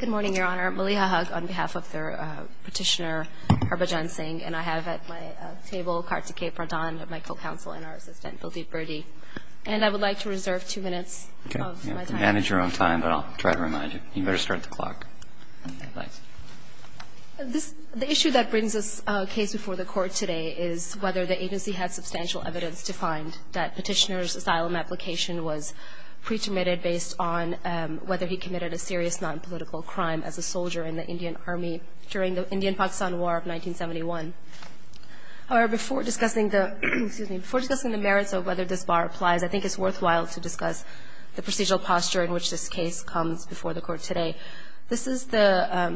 Good morning, Your Honor. Maliha Haq on behalf of the petitioner, Harbhajan Singh, and I have at my table Kartikey Pradhan, my co-counsel, and our assistant, Dilip Burdi. And I would like to reserve two minutes of my time. Manage your own time, but I'll try to remind you. You better start the clock. The issue that brings this case before the court today is whether the agency has substantial evidence to find that petitioner's asylum application was actually committed a serious nonpolitical crime as a soldier in the Indian Army during the Indian-Pakistan War of 1971. Before discussing the merits of whether this bar applies, I think it's worthwhile to discuss the procedural posture in which this case comes before the court today. This is the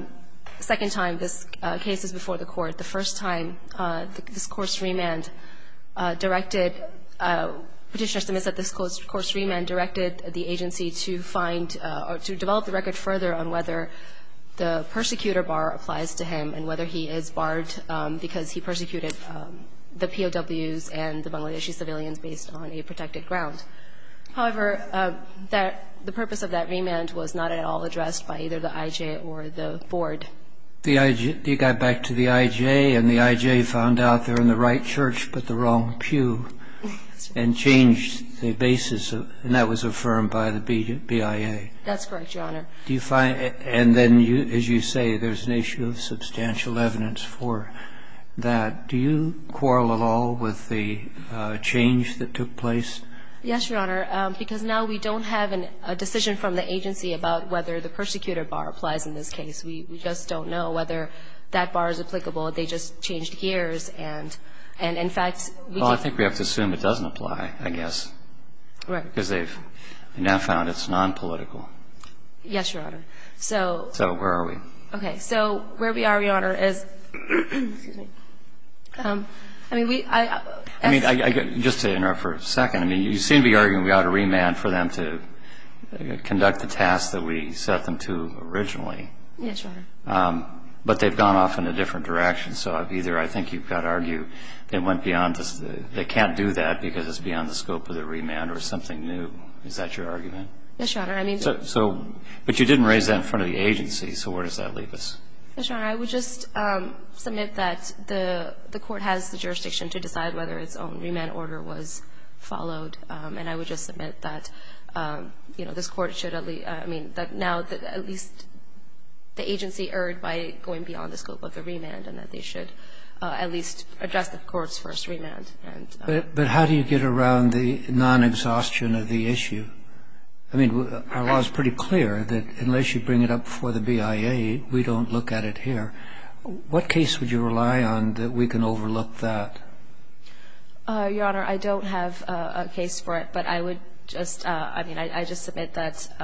second time this case is before the court. The first time this course remand directed – petitioner estimates that this course remand directed the agency to find or to develop the record further on whether the persecutor bar applies to him and whether he is barred because he persecuted the POWs and the Bangladeshi civilians based on a protected ground. However, that – the purpose of that remand was not at all addressed by either the IJ or the board. The IJ – they got back to the IJ, and the IJ found out they're in the right church but the wrong pew and changed the basis. And that was affirmed by the BIA. That's correct, Your Honor. Do you find – and then, as you say, there's an issue of substantial evidence for that. Do you quarrel at all with the change that took place? Yes, Your Honor, because now we don't have a decision from the agency about whether the persecutor bar applies in this case. We just don't know whether that bar is applicable. They just changed gears. And in fact, we do think we have to assume it doesn't apply, I guess. Right. Because they've now found it's nonpolitical. Yes, Your Honor. So – So where are we? Okay. So where we are, Your Honor, is – excuse me. I mean, we – I – I mean, just to interrupt for a second, I mean, you seem to be arguing we ought to remand for them to conduct the tasks that we set them to originally. Yes, Your Honor. But they've gone off in a different direction. So either I think you've got to argue they went beyond – they can't do that because it's beyond the scope of the remand or something new. Is that your argument? Yes, Your Honor. I mean – So – but you didn't raise that in front of the agency. So where does that leave us? Yes, Your Honor. I would just submit that the court has the jurisdiction to decide whether its own remand order was followed. And I would just submit that, you know, this Court should at least – I mean, that now at least the agency erred by going beyond the scope of the remand and that they should at least address the Court's first remand. But how do you get around the non-exhaustion of the issue? I mean, our law is pretty clear that unless you bring it up before the BIA, we don't look at it here. What case would you rely on that we can overlook that? Your Honor, I don't have a case for it, but I would just – I mean, I just submit that –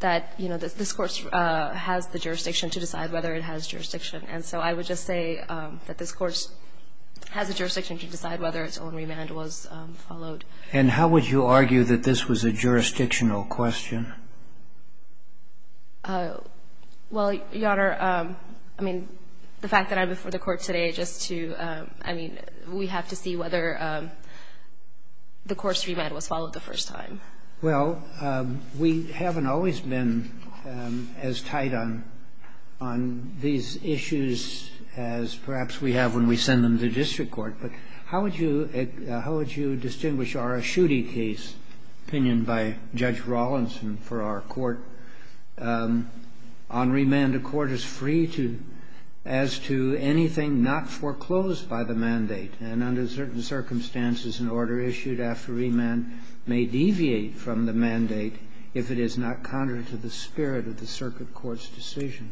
that, you know, this Court has the jurisdiction to decide whether it has jurisdiction. And so I would just say that this Court has a jurisdiction to decide whether its own remand was followed. And how would you argue that this was a jurisdictional question? Well, Your Honor, I mean, the fact that I'm before the Court today just to – I mean, we have to see whether the Court's remand was followed the first time. Well, we haven't always been as tight on – on these issues as perhaps we have when we send them to district court. But how would you – how would you distinguish our Aschutti case, opinion by Judge Rawlinson for our Court? On remand, a court is free to – as to anything not foreclosed by the mandate. And under certain circumstances, an order issued after remand may deviate from the mandate if it is not contrary to the spirit of the circuit court's decision.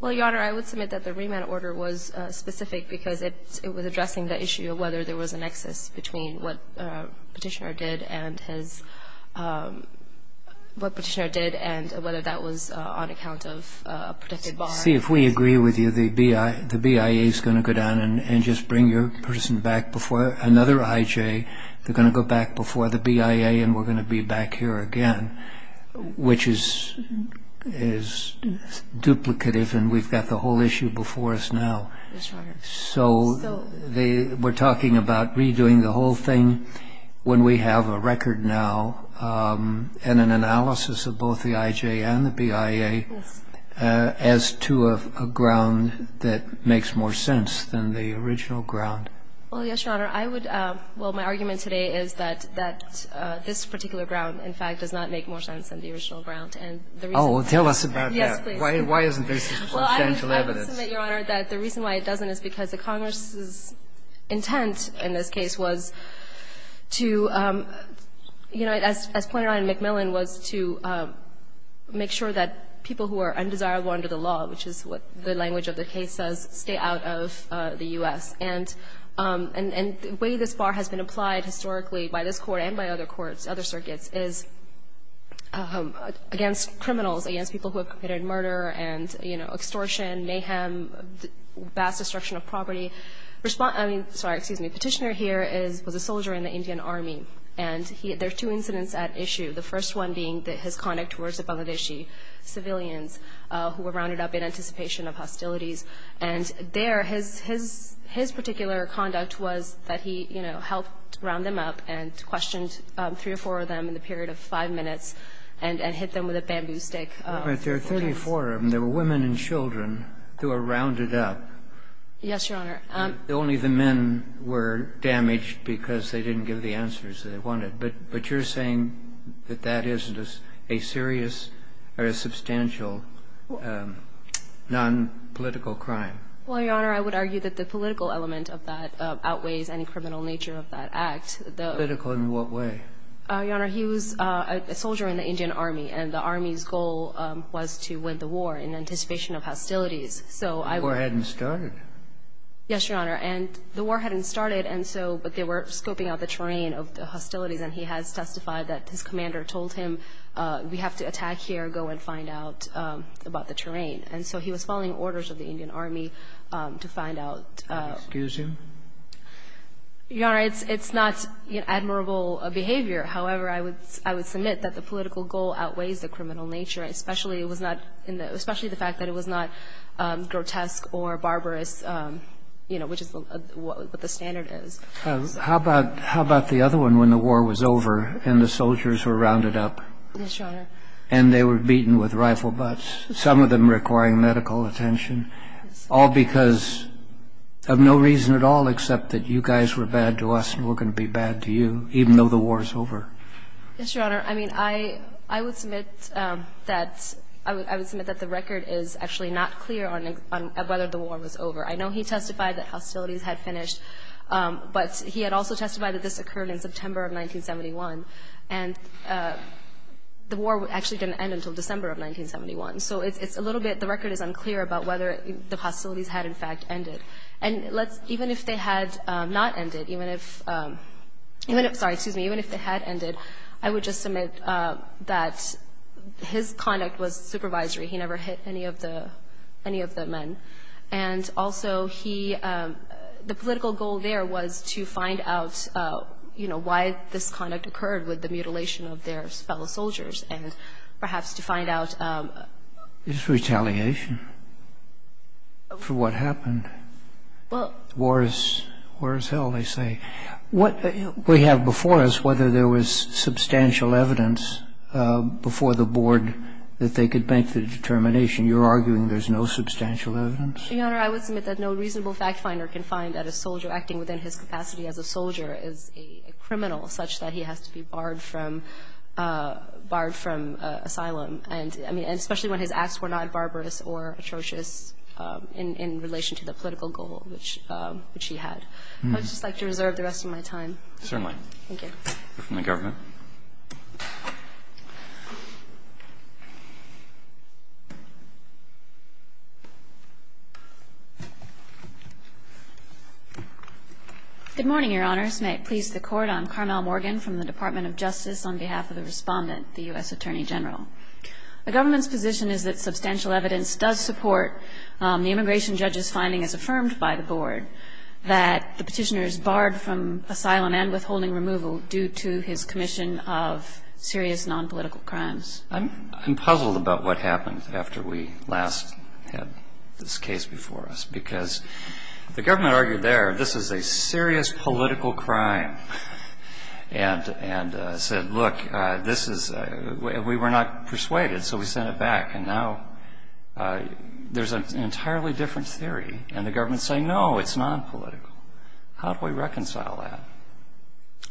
Well, Your Honor, I would submit that the remand order was specific because it was addressing the issue of whether there was a nexus between what Petitioner did and his – what Petitioner did and whether that was on account of a protected bar. See, if we agree with you, the BIA is going to go down and just bring your person back before another IJ. They're going to go back before the BIA, and we're going to be back here again, which is – is duplicative, and we've got the whole issue before us now. Yes, Your Honor. So they – we're talking about redoing the whole thing when we have a record now and an analysis of both the IJ and the BIA as to a ground that makes more sense than the original ground. Well, yes, Your Honor. I would – well, my argument today is that this particular ground, in fact, does not make more sense than the original ground. And the reason – Oh, well, tell us about that. Yes, please. Why isn't there substantial evidence? Well, I would submit, Your Honor, that the reason why it doesn't is because the Congress's intent in this case was to – you know, as pointed out in McMillan, was to make sure that people who are undesirable under the law, which is what the language of the case says, stay out of the U.S. And the way this bar has been applied historically by this Court and by other courts, other circuits, is against criminals, against people who have committed murder and, you know, extortion, mayhem, vast destruction of property. Respondent – I mean – sorry, excuse me. Petitioner here is – was a soldier in the Indian Army. And he – there are two incidents at issue, the first one being his conduct towards Bangladeshi civilians who were rounded up in anticipation of hostilities. And there his – his particular conduct was that he, you know, helped round them up and questioned three or four of them in the period of five minutes and hit them with a bamboo stick. But there are 34 of them. There were women and children who were rounded up. Yes, Your Honor. Only the men were damaged because they didn't give the answers they wanted. But you're saying that that isn't a serious or a substantial nonpolitical crime? Well, Your Honor, I would argue that the political element of that outweighs any criminal nature of that act. Political in what way? Your Honor, he was a soldier in the Indian Army. And the Army's goal was to win the war in anticipation of hostilities. So I would – The war hadn't started. Yes, Your Honor. And the war hadn't started, and so – but they were scoping out the terrain of the hostilities. And he has testified that his commander told him we have to attack here, go and find out about the terrain. And so he was following orders of the Indian Army to find out – Excuse him. Your Honor, it's not admirable behavior. However, I would submit that the political goal outweighs the criminal nature, especially it was not – especially the fact that it was not grotesque or barbarous, you know, which is what the standard is. How about the other one, when the war was over and the soldiers were rounded up? Yes, Your Honor. And they were beaten with rifle butts, some of them requiring medical attention, all because of no reason at all except that you guys were bad to us and we're going to be bad to you, even though the war is over. Yes, Your Honor. I mean, I would submit that – I would submit that the record is actually not clear on whether the war was over. I know he testified that hostilities had finished, but he had also testified that this occurred in September of 1971. And the war actually didn't end until December of 1971. So it's a little bit – the record is unclear about whether the hostilities had, in fact, ended. And even if they had not ended, even if – sorry, excuse me. Even if they had ended, I would just submit that his conduct was supervisory. He never hit any of the men. And also he – the political goal there was to find out, you know, why this conduct occurred with the mutilation of their fellow soldiers and perhaps to find out – It's retaliation for what happened. Well – War is – war is hell, they say. What we have before us, whether there was substantial evidence before the board that they could make the determination, you're arguing there's no substantial evidence? Your Honor, I would submit that no reasonable fact finder can find that a soldier such that he has to be barred from – barred from asylum. And, I mean, especially when his acts were not barbarous or atrocious in relation to the political goal which he had. I would just like to reserve the rest of my time. Certainly. Thank you. We're from the government. Good morning, Your Honors. The government's position is that substantial evidence does support the immigration judge's finding as affirmed by the board that the petitioner is barred from asylum and withholding removal due to his commission of serious non-political crimes. I'm puzzled about what happened after we last had this case before us, because the government argued there, this is a serious political crime, and said, look, this is, we were not persuaded, so we sent it back, and now there's an entirely different theory, and the government is saying, no, it's non-political. How do we reconcile that?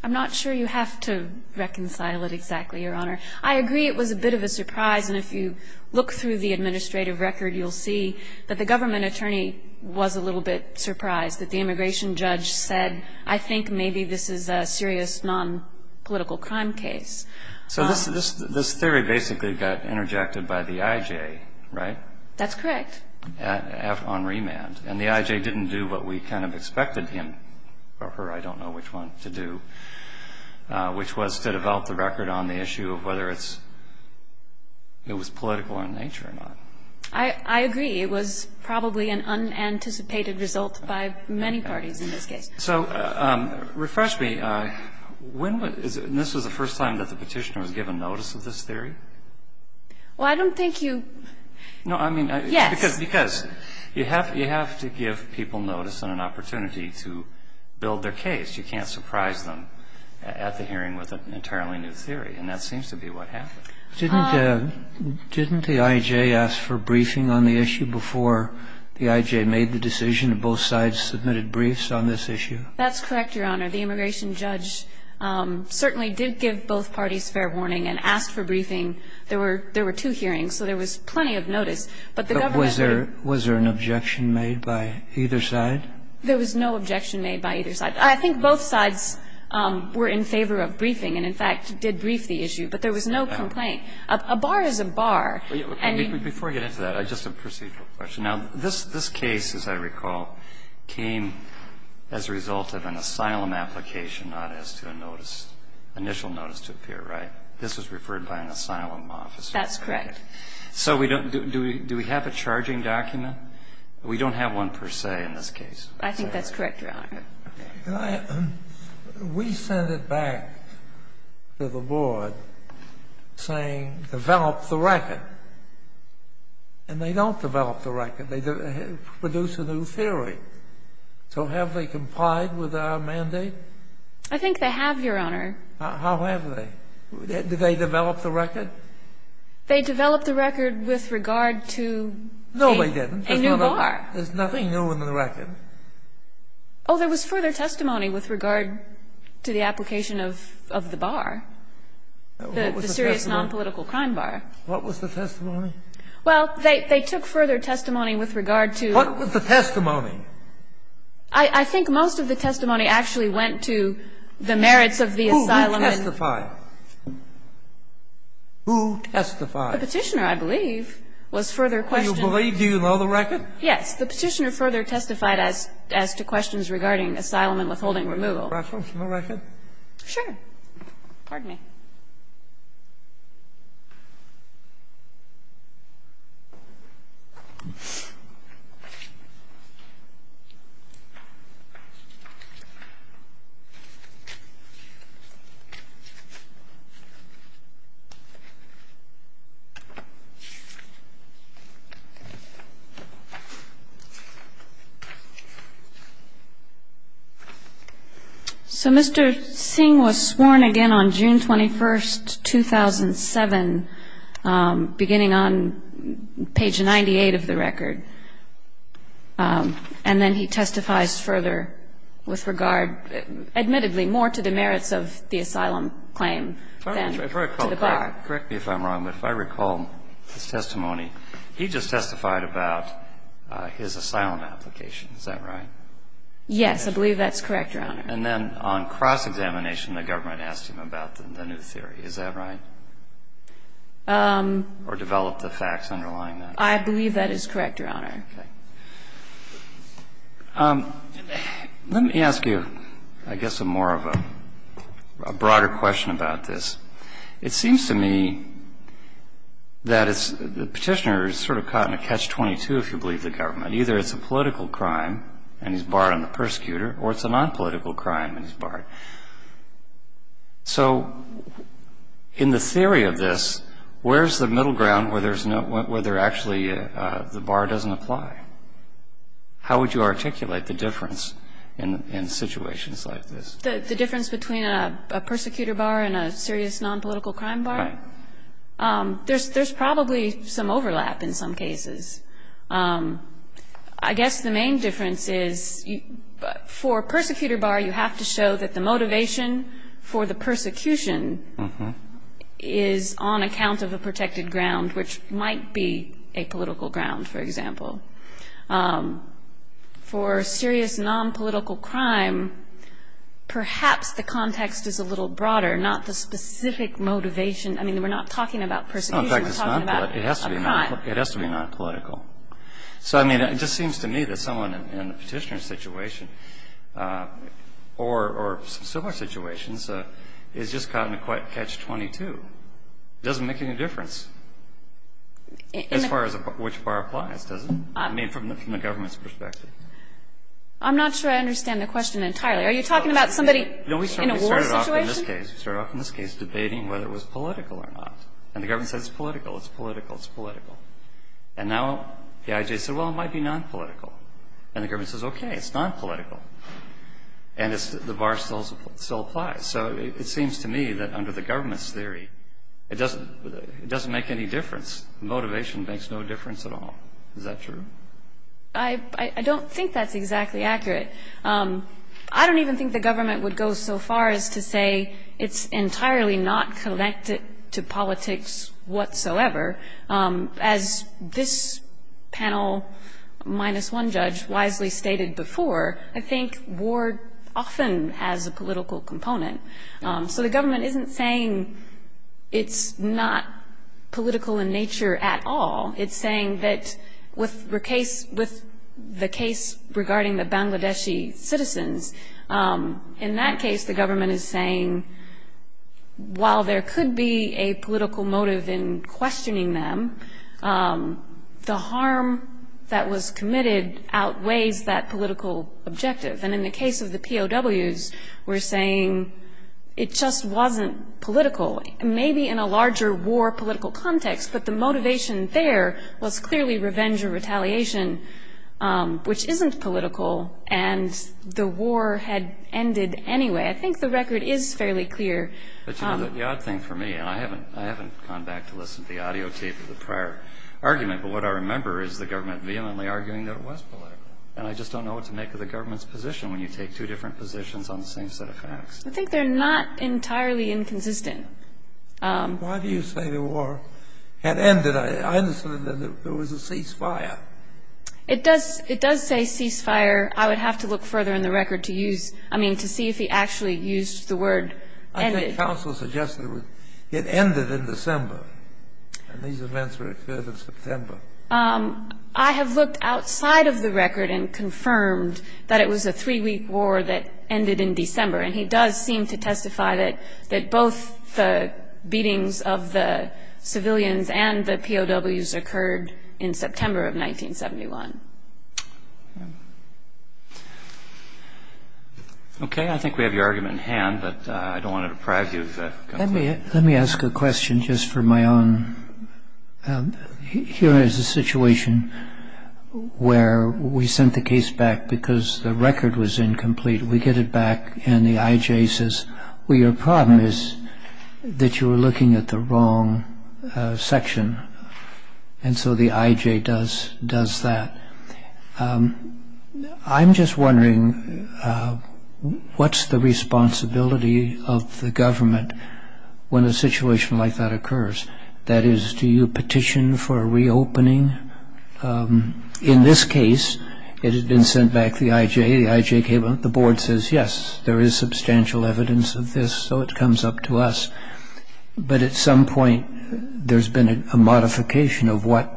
I'm not sure you have to reconcile it exactly, Your Honor. I agree it was a bit of a surprise, and if you look through the administrative record, you'll see that the government attorney was a little bit surprised that the immigration judge said, I think maybe this is a serious non-political crime case. So this theory basically got interjected by the I.J., right? That's correct. On remand. And the I.J. didn't do what we kind of expected him or her, I don't know which one, to do, which was to develop the record on the issue of whether it's, it was political in nature or not. I agree. It was probably an unanticipated result by many parties in this case. So refresh me. When was, and this was the first time that the Petitioner was given notice of this theory? Well, I don't think you, yes. No, I mean, because you have to give people notice and an opportunity to build their case. You can't surprise them at the hearing with an entirely new theory. And that seems to be what happened. Didn't the I.J. ask for briefing on the issue before the I.J. made the decision and both sides submitted briefs on this issue? That's correct, Your Honor. The immigration judge certainly did give both parties fair warning and asked for briefing. There were two hearings, so there was plenty of notice. But the government attorney But was there an objection made by either side? There was no objection made by either side. I think both sides were in favor of briefing and, in fact, did brief the issue. But there was no complaint. A bar is a bar. Before I get into that, just a procedural question. Now, this case, as I recall, came as a result of an asylum application, not as to a notice, initial notice to appear, right? This was referred by an asylum officer. That's correct. So do we have a charging document? We don't have one per se in this case. I think that's correct, Your Honor. We sent it back to the board saying develop the record. And they don't develop the record. They produce a new theory. So have they complied with our mandate? I think they have, Your Honor. How have they? Did they develop the record? They developed the record with regard to a new bar. No, they didn't. There's nothing new in the record. Oh, there was further testimony with regard to the application of the bar, the serious nonpolitical crime bar. What was the testimony? Well, they took further testimony with regard to the bar. What was the testimony? I think most of the testimony actually went to the merits of the asylum. Who testified? Who testified? The Petitioner, I believe, was further questioned. Do you believe? Do you know the record? Yes. The Petitioner further testified as to questions regarding asylum and withholding removal. Can I see the record? Sure. Pardon me. So Mr. Singh was sworn again on June 25th. He was sworn again on June 25th, 2007, beginning on page 98 of the record. And then he testifies further with regard, admittedly, more to the merits of the asylum claim than to the bar. Correct me if I'm wrong, but if I recall his testimony, he just testified about his asylum application. Is that right? Yes, I believe that's correct, Your Honor. And then on cross-examination, the government asked him about the new theory. Is that right? Or develop the facts underlying that? I believe that is correct, Your Honor. Okay. Let me ask you, I guess, a more of a broader question about this. It seems to me that the Petitioner is sort of caught in a catch-22, if you believe the government. Either it's a political crime and he's barred on the persecutor or it's a nonpolitical crime and he's barred. So in the theory of this, where's the middle ground where there's no – where there actually – the bar doesn't apply? How would you articulate the difference in situations like this? The difference between a persecutor bar and a serious nonpolitical crime bar? Right. There's probably some overlap in some cases. I guess the main difference is for a persecutor bar, you have to show that the motivation for the persecution is on account of a protected ground, which might be a political ground, for example. For a serious nonpolitical crime, perhaps the context is a little broader, not the specific motivation. I mean, we're not talking about persecution. We're talking about a crime. It has to be nonpolitical. So, I mean, it just seems to me that someone in a petitioner situation or similar situations is just caught in a catch-22. It doesn't make any difference as far as which bar applies, does it? I mean, from the government's perspective. I'm not sure I understand the question entirely. Are you talking about somebody in a war situation? No, we started off in this case debating whether it was political or not. And the government said, it's political, it's political, it's political. And now the IJ said, well, it might be nonpolitical. And the government says, okay, it's nonpolitical. And the bar still applies. So it seems to me that under the government's theory, it doesn't make any difference. Motivation makes no difference at all. Is that true? I don't think that's exactly accurate. I don't even think the government would go so far as to say it's entirely not connected to politics whatsoever. As this panel minus one judge wisely stated before, I think war often has a political component. So the government isn't saying it's not political in nature at all. It's saying that with the case regarding the Bangladeshi citizens, in that case, the government is saying, while there could be a political motive in questioning them, the harm that was committed outweighs that political objective. And in the case of the POWs, we're saying it just wasn't political, maybe in a larger war political context, but the motivation there was clearly revenge or retaliation, which isn't political, and the war had ended anyway. I think the record is fairly clear. But, you know, the odd thing for me, and I haven't gone back to listen to the audio tape of the prior argument, but what I remember is the government vehemently arguing that it was political. And I just don't know what to make of the government's position when you take two different positions on the same set of facts. I think they're not entirely inconsistent. Why do you say the war had ended? I understand that there was a ceasefire. It does say ceasefire. I would have to look further in the record to use, I mean, to see if he actually used the word ended. I think counsel suggested it ended in December, and these events occurred in September. I have looked outside of the record and confirmed that it was a three-week war that ended in December, and he does seem to testify that both the beatings of the civilians and the POWs occurred in September of 1971. Okay. I think we have your argument in hand, but I don't want to deprive you of that. Let me ask a question just for my own. Here is a situation where we sent the case back because the record was incomplete. We get it back and the I.J. says, well, your problem is that you were looking at the wrong section. And so the I.J. does that. I'm just wondering, what's the responsibility of the government when a situation like that occurs? That is, do you petition for a reopening? In this case, it had been sent back to the I.J. The I.J. came and the board says, yes, there is substantial evidence of this, so it comes up to us. But at some point, there's been a modification of what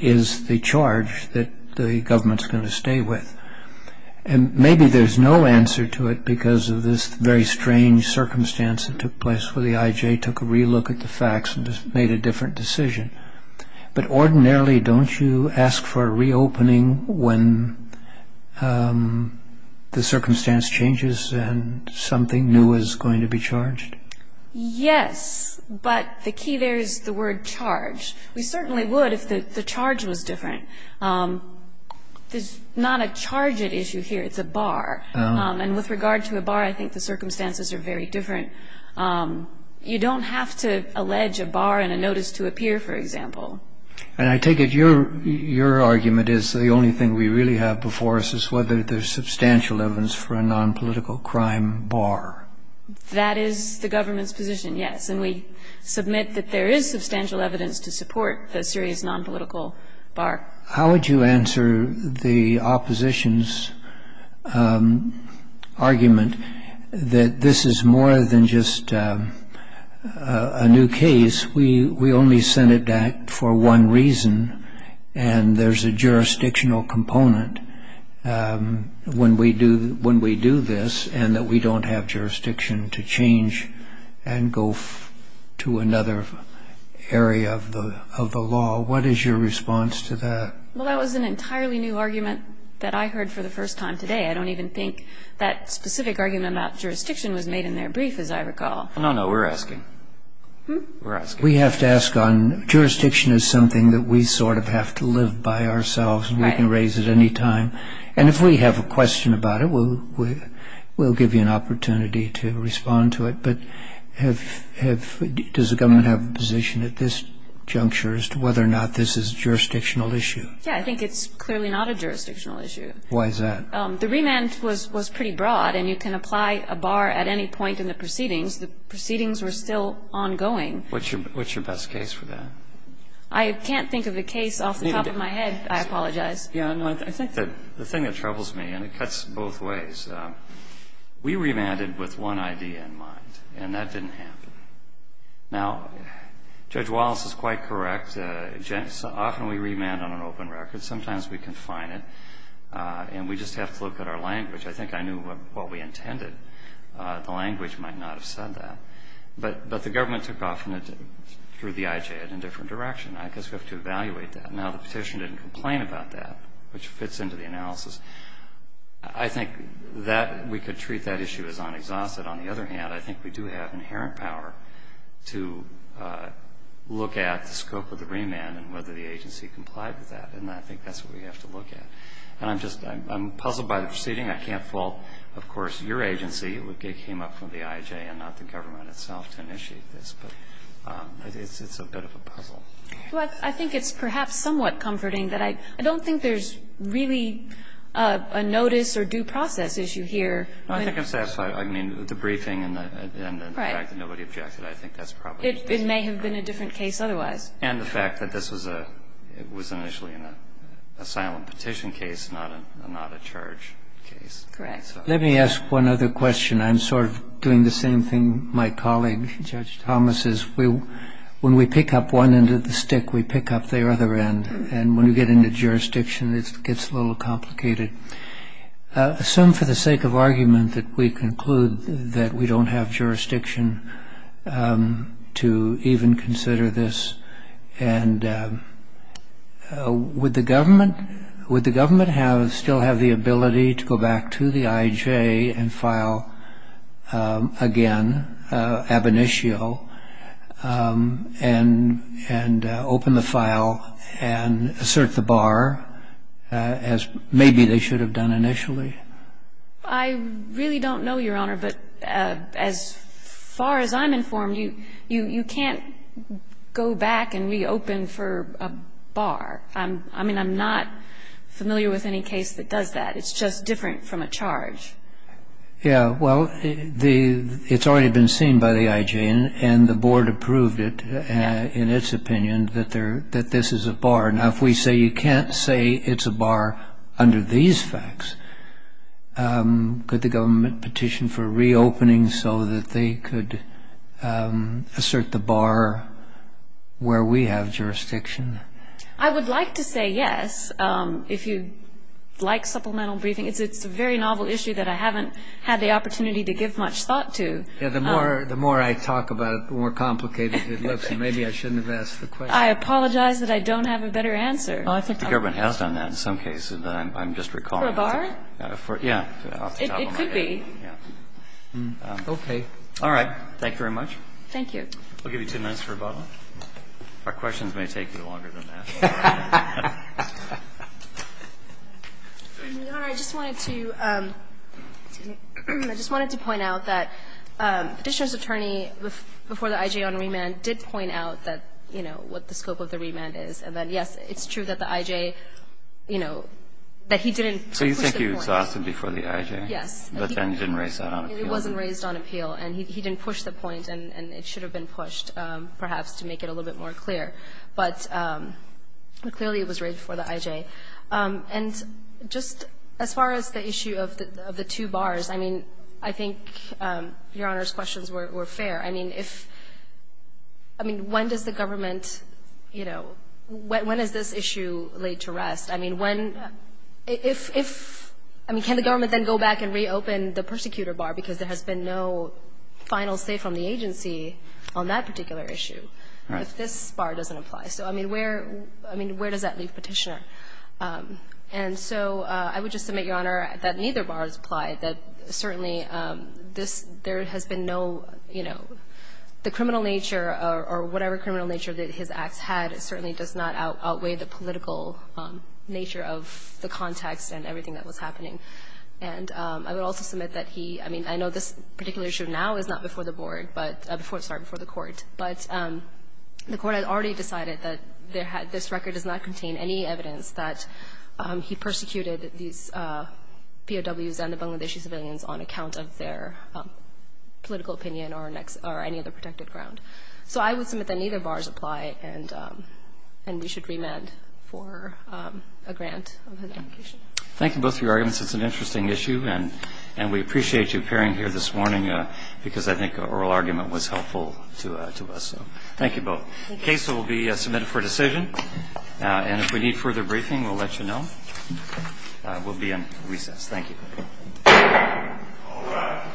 is the charge that the government is going to stay with. And maybe there's no answer to it because of this very strange circumstance that took place where the I.J. took a relook at the facts and just made a different decision. But ordinarily, don't you ask for a reopening when the circumstance changes and something new is going to be charged? Yes, but the key there is the word charge. We certainly would if the charge was different. There's not a charge at issue here. It's a bar. And with regard to a bar, I think the circumstances are very different. You don't have to allege a bar and a notice to appear, for example. And I take it your argument is the only thing we really have before us is whether there's substantial evidence for a nonpolitical crime bar. That is the government's position, yes. And we submit that there is substantial evidence to support the serious nonpolitical bar. How would you answer the opposition's argument that this is more than just a new case? We only sent it back for one reason, and there's a jurisdictional component when we do this and that we don't have jurisdiction to change and go to another area of the law. What is your response to that? Well, that was an entirely new argument that I heard for the first time today. I don't even think that specific argument about jurisdiction was made in their brief, as I recall. No, no, we're asking. We're asking. We have to ask on jurisdiction is something that we sort of have to live by ourselves. We can raise it any time. And if we have a question about it, we'll give you an opportunity to respond to it. But does the government have a position at this juncture as to whether or not this is a jurisdictional issue? Yeah, I think it's clearly not a jurisdictional issue. Why is that? The remand was pretty broad, and you can apply a bar at any point in the proceedings. The proceedings were still ongoing. What's your best case for that? I can't think of a case off the top of my head. I apologize. Yeah, no, I think the thing that troubles me, and it cuts both ways, we remanded with one idea in mind, and that didn't happen. Now, Judge Wallace is quite correct. Often we remand on an open record. Sometimes we confine it, and we just have to look at our language. I think I knew what we intended. The language might not have said that. But the government took off through the IJ in a different direction. I guess we have to evaluate that. Now, the petition didn't complain about that, which fits into the analysis. I think that we could treat that issue as unexhausted. On the other hand, I think we do have inherent power to look at the scope of the remand and whether the agency complied with that. And I think that's what we have to look at. And I'm puzzled by the proceeding. I can't fault, of course, your agency. It came up from the IJ and not the government itself to initiate this. But it's a bit of a puzzle. Well, I think it's perhaps somewhat comforting that I don't think there's really a notice or due process issue here. No, I think I'm satisfied. I mean, the briefing and the fact that nobody objected, I think that's probably the case. It may have been a different case otherwise. And the fact that this was initially an asylum petition case, not a charge case. Correct. Let me ask one other question. I'm sort of doing the same thing my colleague, Judge Thomas, is. When we pick up one end of the stick, we pick up the other end. And when we get into jurisdiction, it gets a little complicated. Assume for the sake of argument that we conclude that we don't have jurisdiction to even consider this. And would the government still have the ability to go back to the IJ and file again, ab initio, and open the file and assert the bar as maybe they should have done initially? I really don't know, Your Honor. But as far as I'm informed, you can't go back and reopen for a bar. I mean, I'm not familiar with any case that does that. It's just different from a charge. Yeah, well, it's already been seen by the IJ, and the board approved it in its opinion that this is a bar. Now, if we say you can't say it's a bar under these facts, could the government petition for reopening so that they could assert the bar where we have jurisdiction? I would like to say yes. If you like supplemental briefing, it's a very novel issue that I haven't had the opportunity to give much thought to. Yeah, the more I talk about it, the more complicated it looks, and maybe I shouldn't have asked the question. I apologize that I don't have a better answer. The government has done that in some cases that I'm just recalling. For a bar? Yeah. It could be. Okay. All right. Thank you very much. Thank you. I'll give you two minutes for a bottle. Our questions may take you longer than that. Your Honor, I just wanted to point out that Petitioner's attorney before the IJ on remand did point out that, you know, what the scope of the remand is, and that, yes, it's true that the IJ, you know, that he didn't push the point. So you think he was asked before the IJ? Yes. But then he didn't raise that on appeal? It wasn't raised on appeal. And he didn't push the point, and it should have been pushed perhaps to make it a little bit more clear. But clearly it was raised before the IJ. And just as far as the issue of the two bars, I mean, I think Your Honor's questions were fair. I mean, when does the government, you know, when is this issue laid to rest? I mean, when – if – I mean, can the government then go back and reopen the persecutor bar, because there has been no final say from the agency on that particular issue, if this bar doesn't apply? So, I mean, where – I mean, where does that leave Petitioner? And so I would just submit, Your Honor, that neither bar has applied, that certainly this – there has been no, you know, the criminal nature or whatever criminal nature that his acts had certainly does not outweigh the political nature of the context and everything that was happening. And I would also submit that he – I mean, I know this particular issue now is not before the board, but before – sorry, before the Court. But the Court has already decided that there had – this record does not contain any evidence that he persecuted these POWs and the Bangladeshi civilians on account of their political opinion or next – or any other protected ground. So I would submit that neither bars apply, and we should remand for a grant of his application. Thank you both for your arguments. It's an interesting issue, and we appreciate you appearing here this morning because I think an oral argument was helpful to us. So thank you both. Thank you. The case will be submitted for decision. And if we need further briefing, we'll let you know. We'll be in recess. Thank you. All rise. Thank you.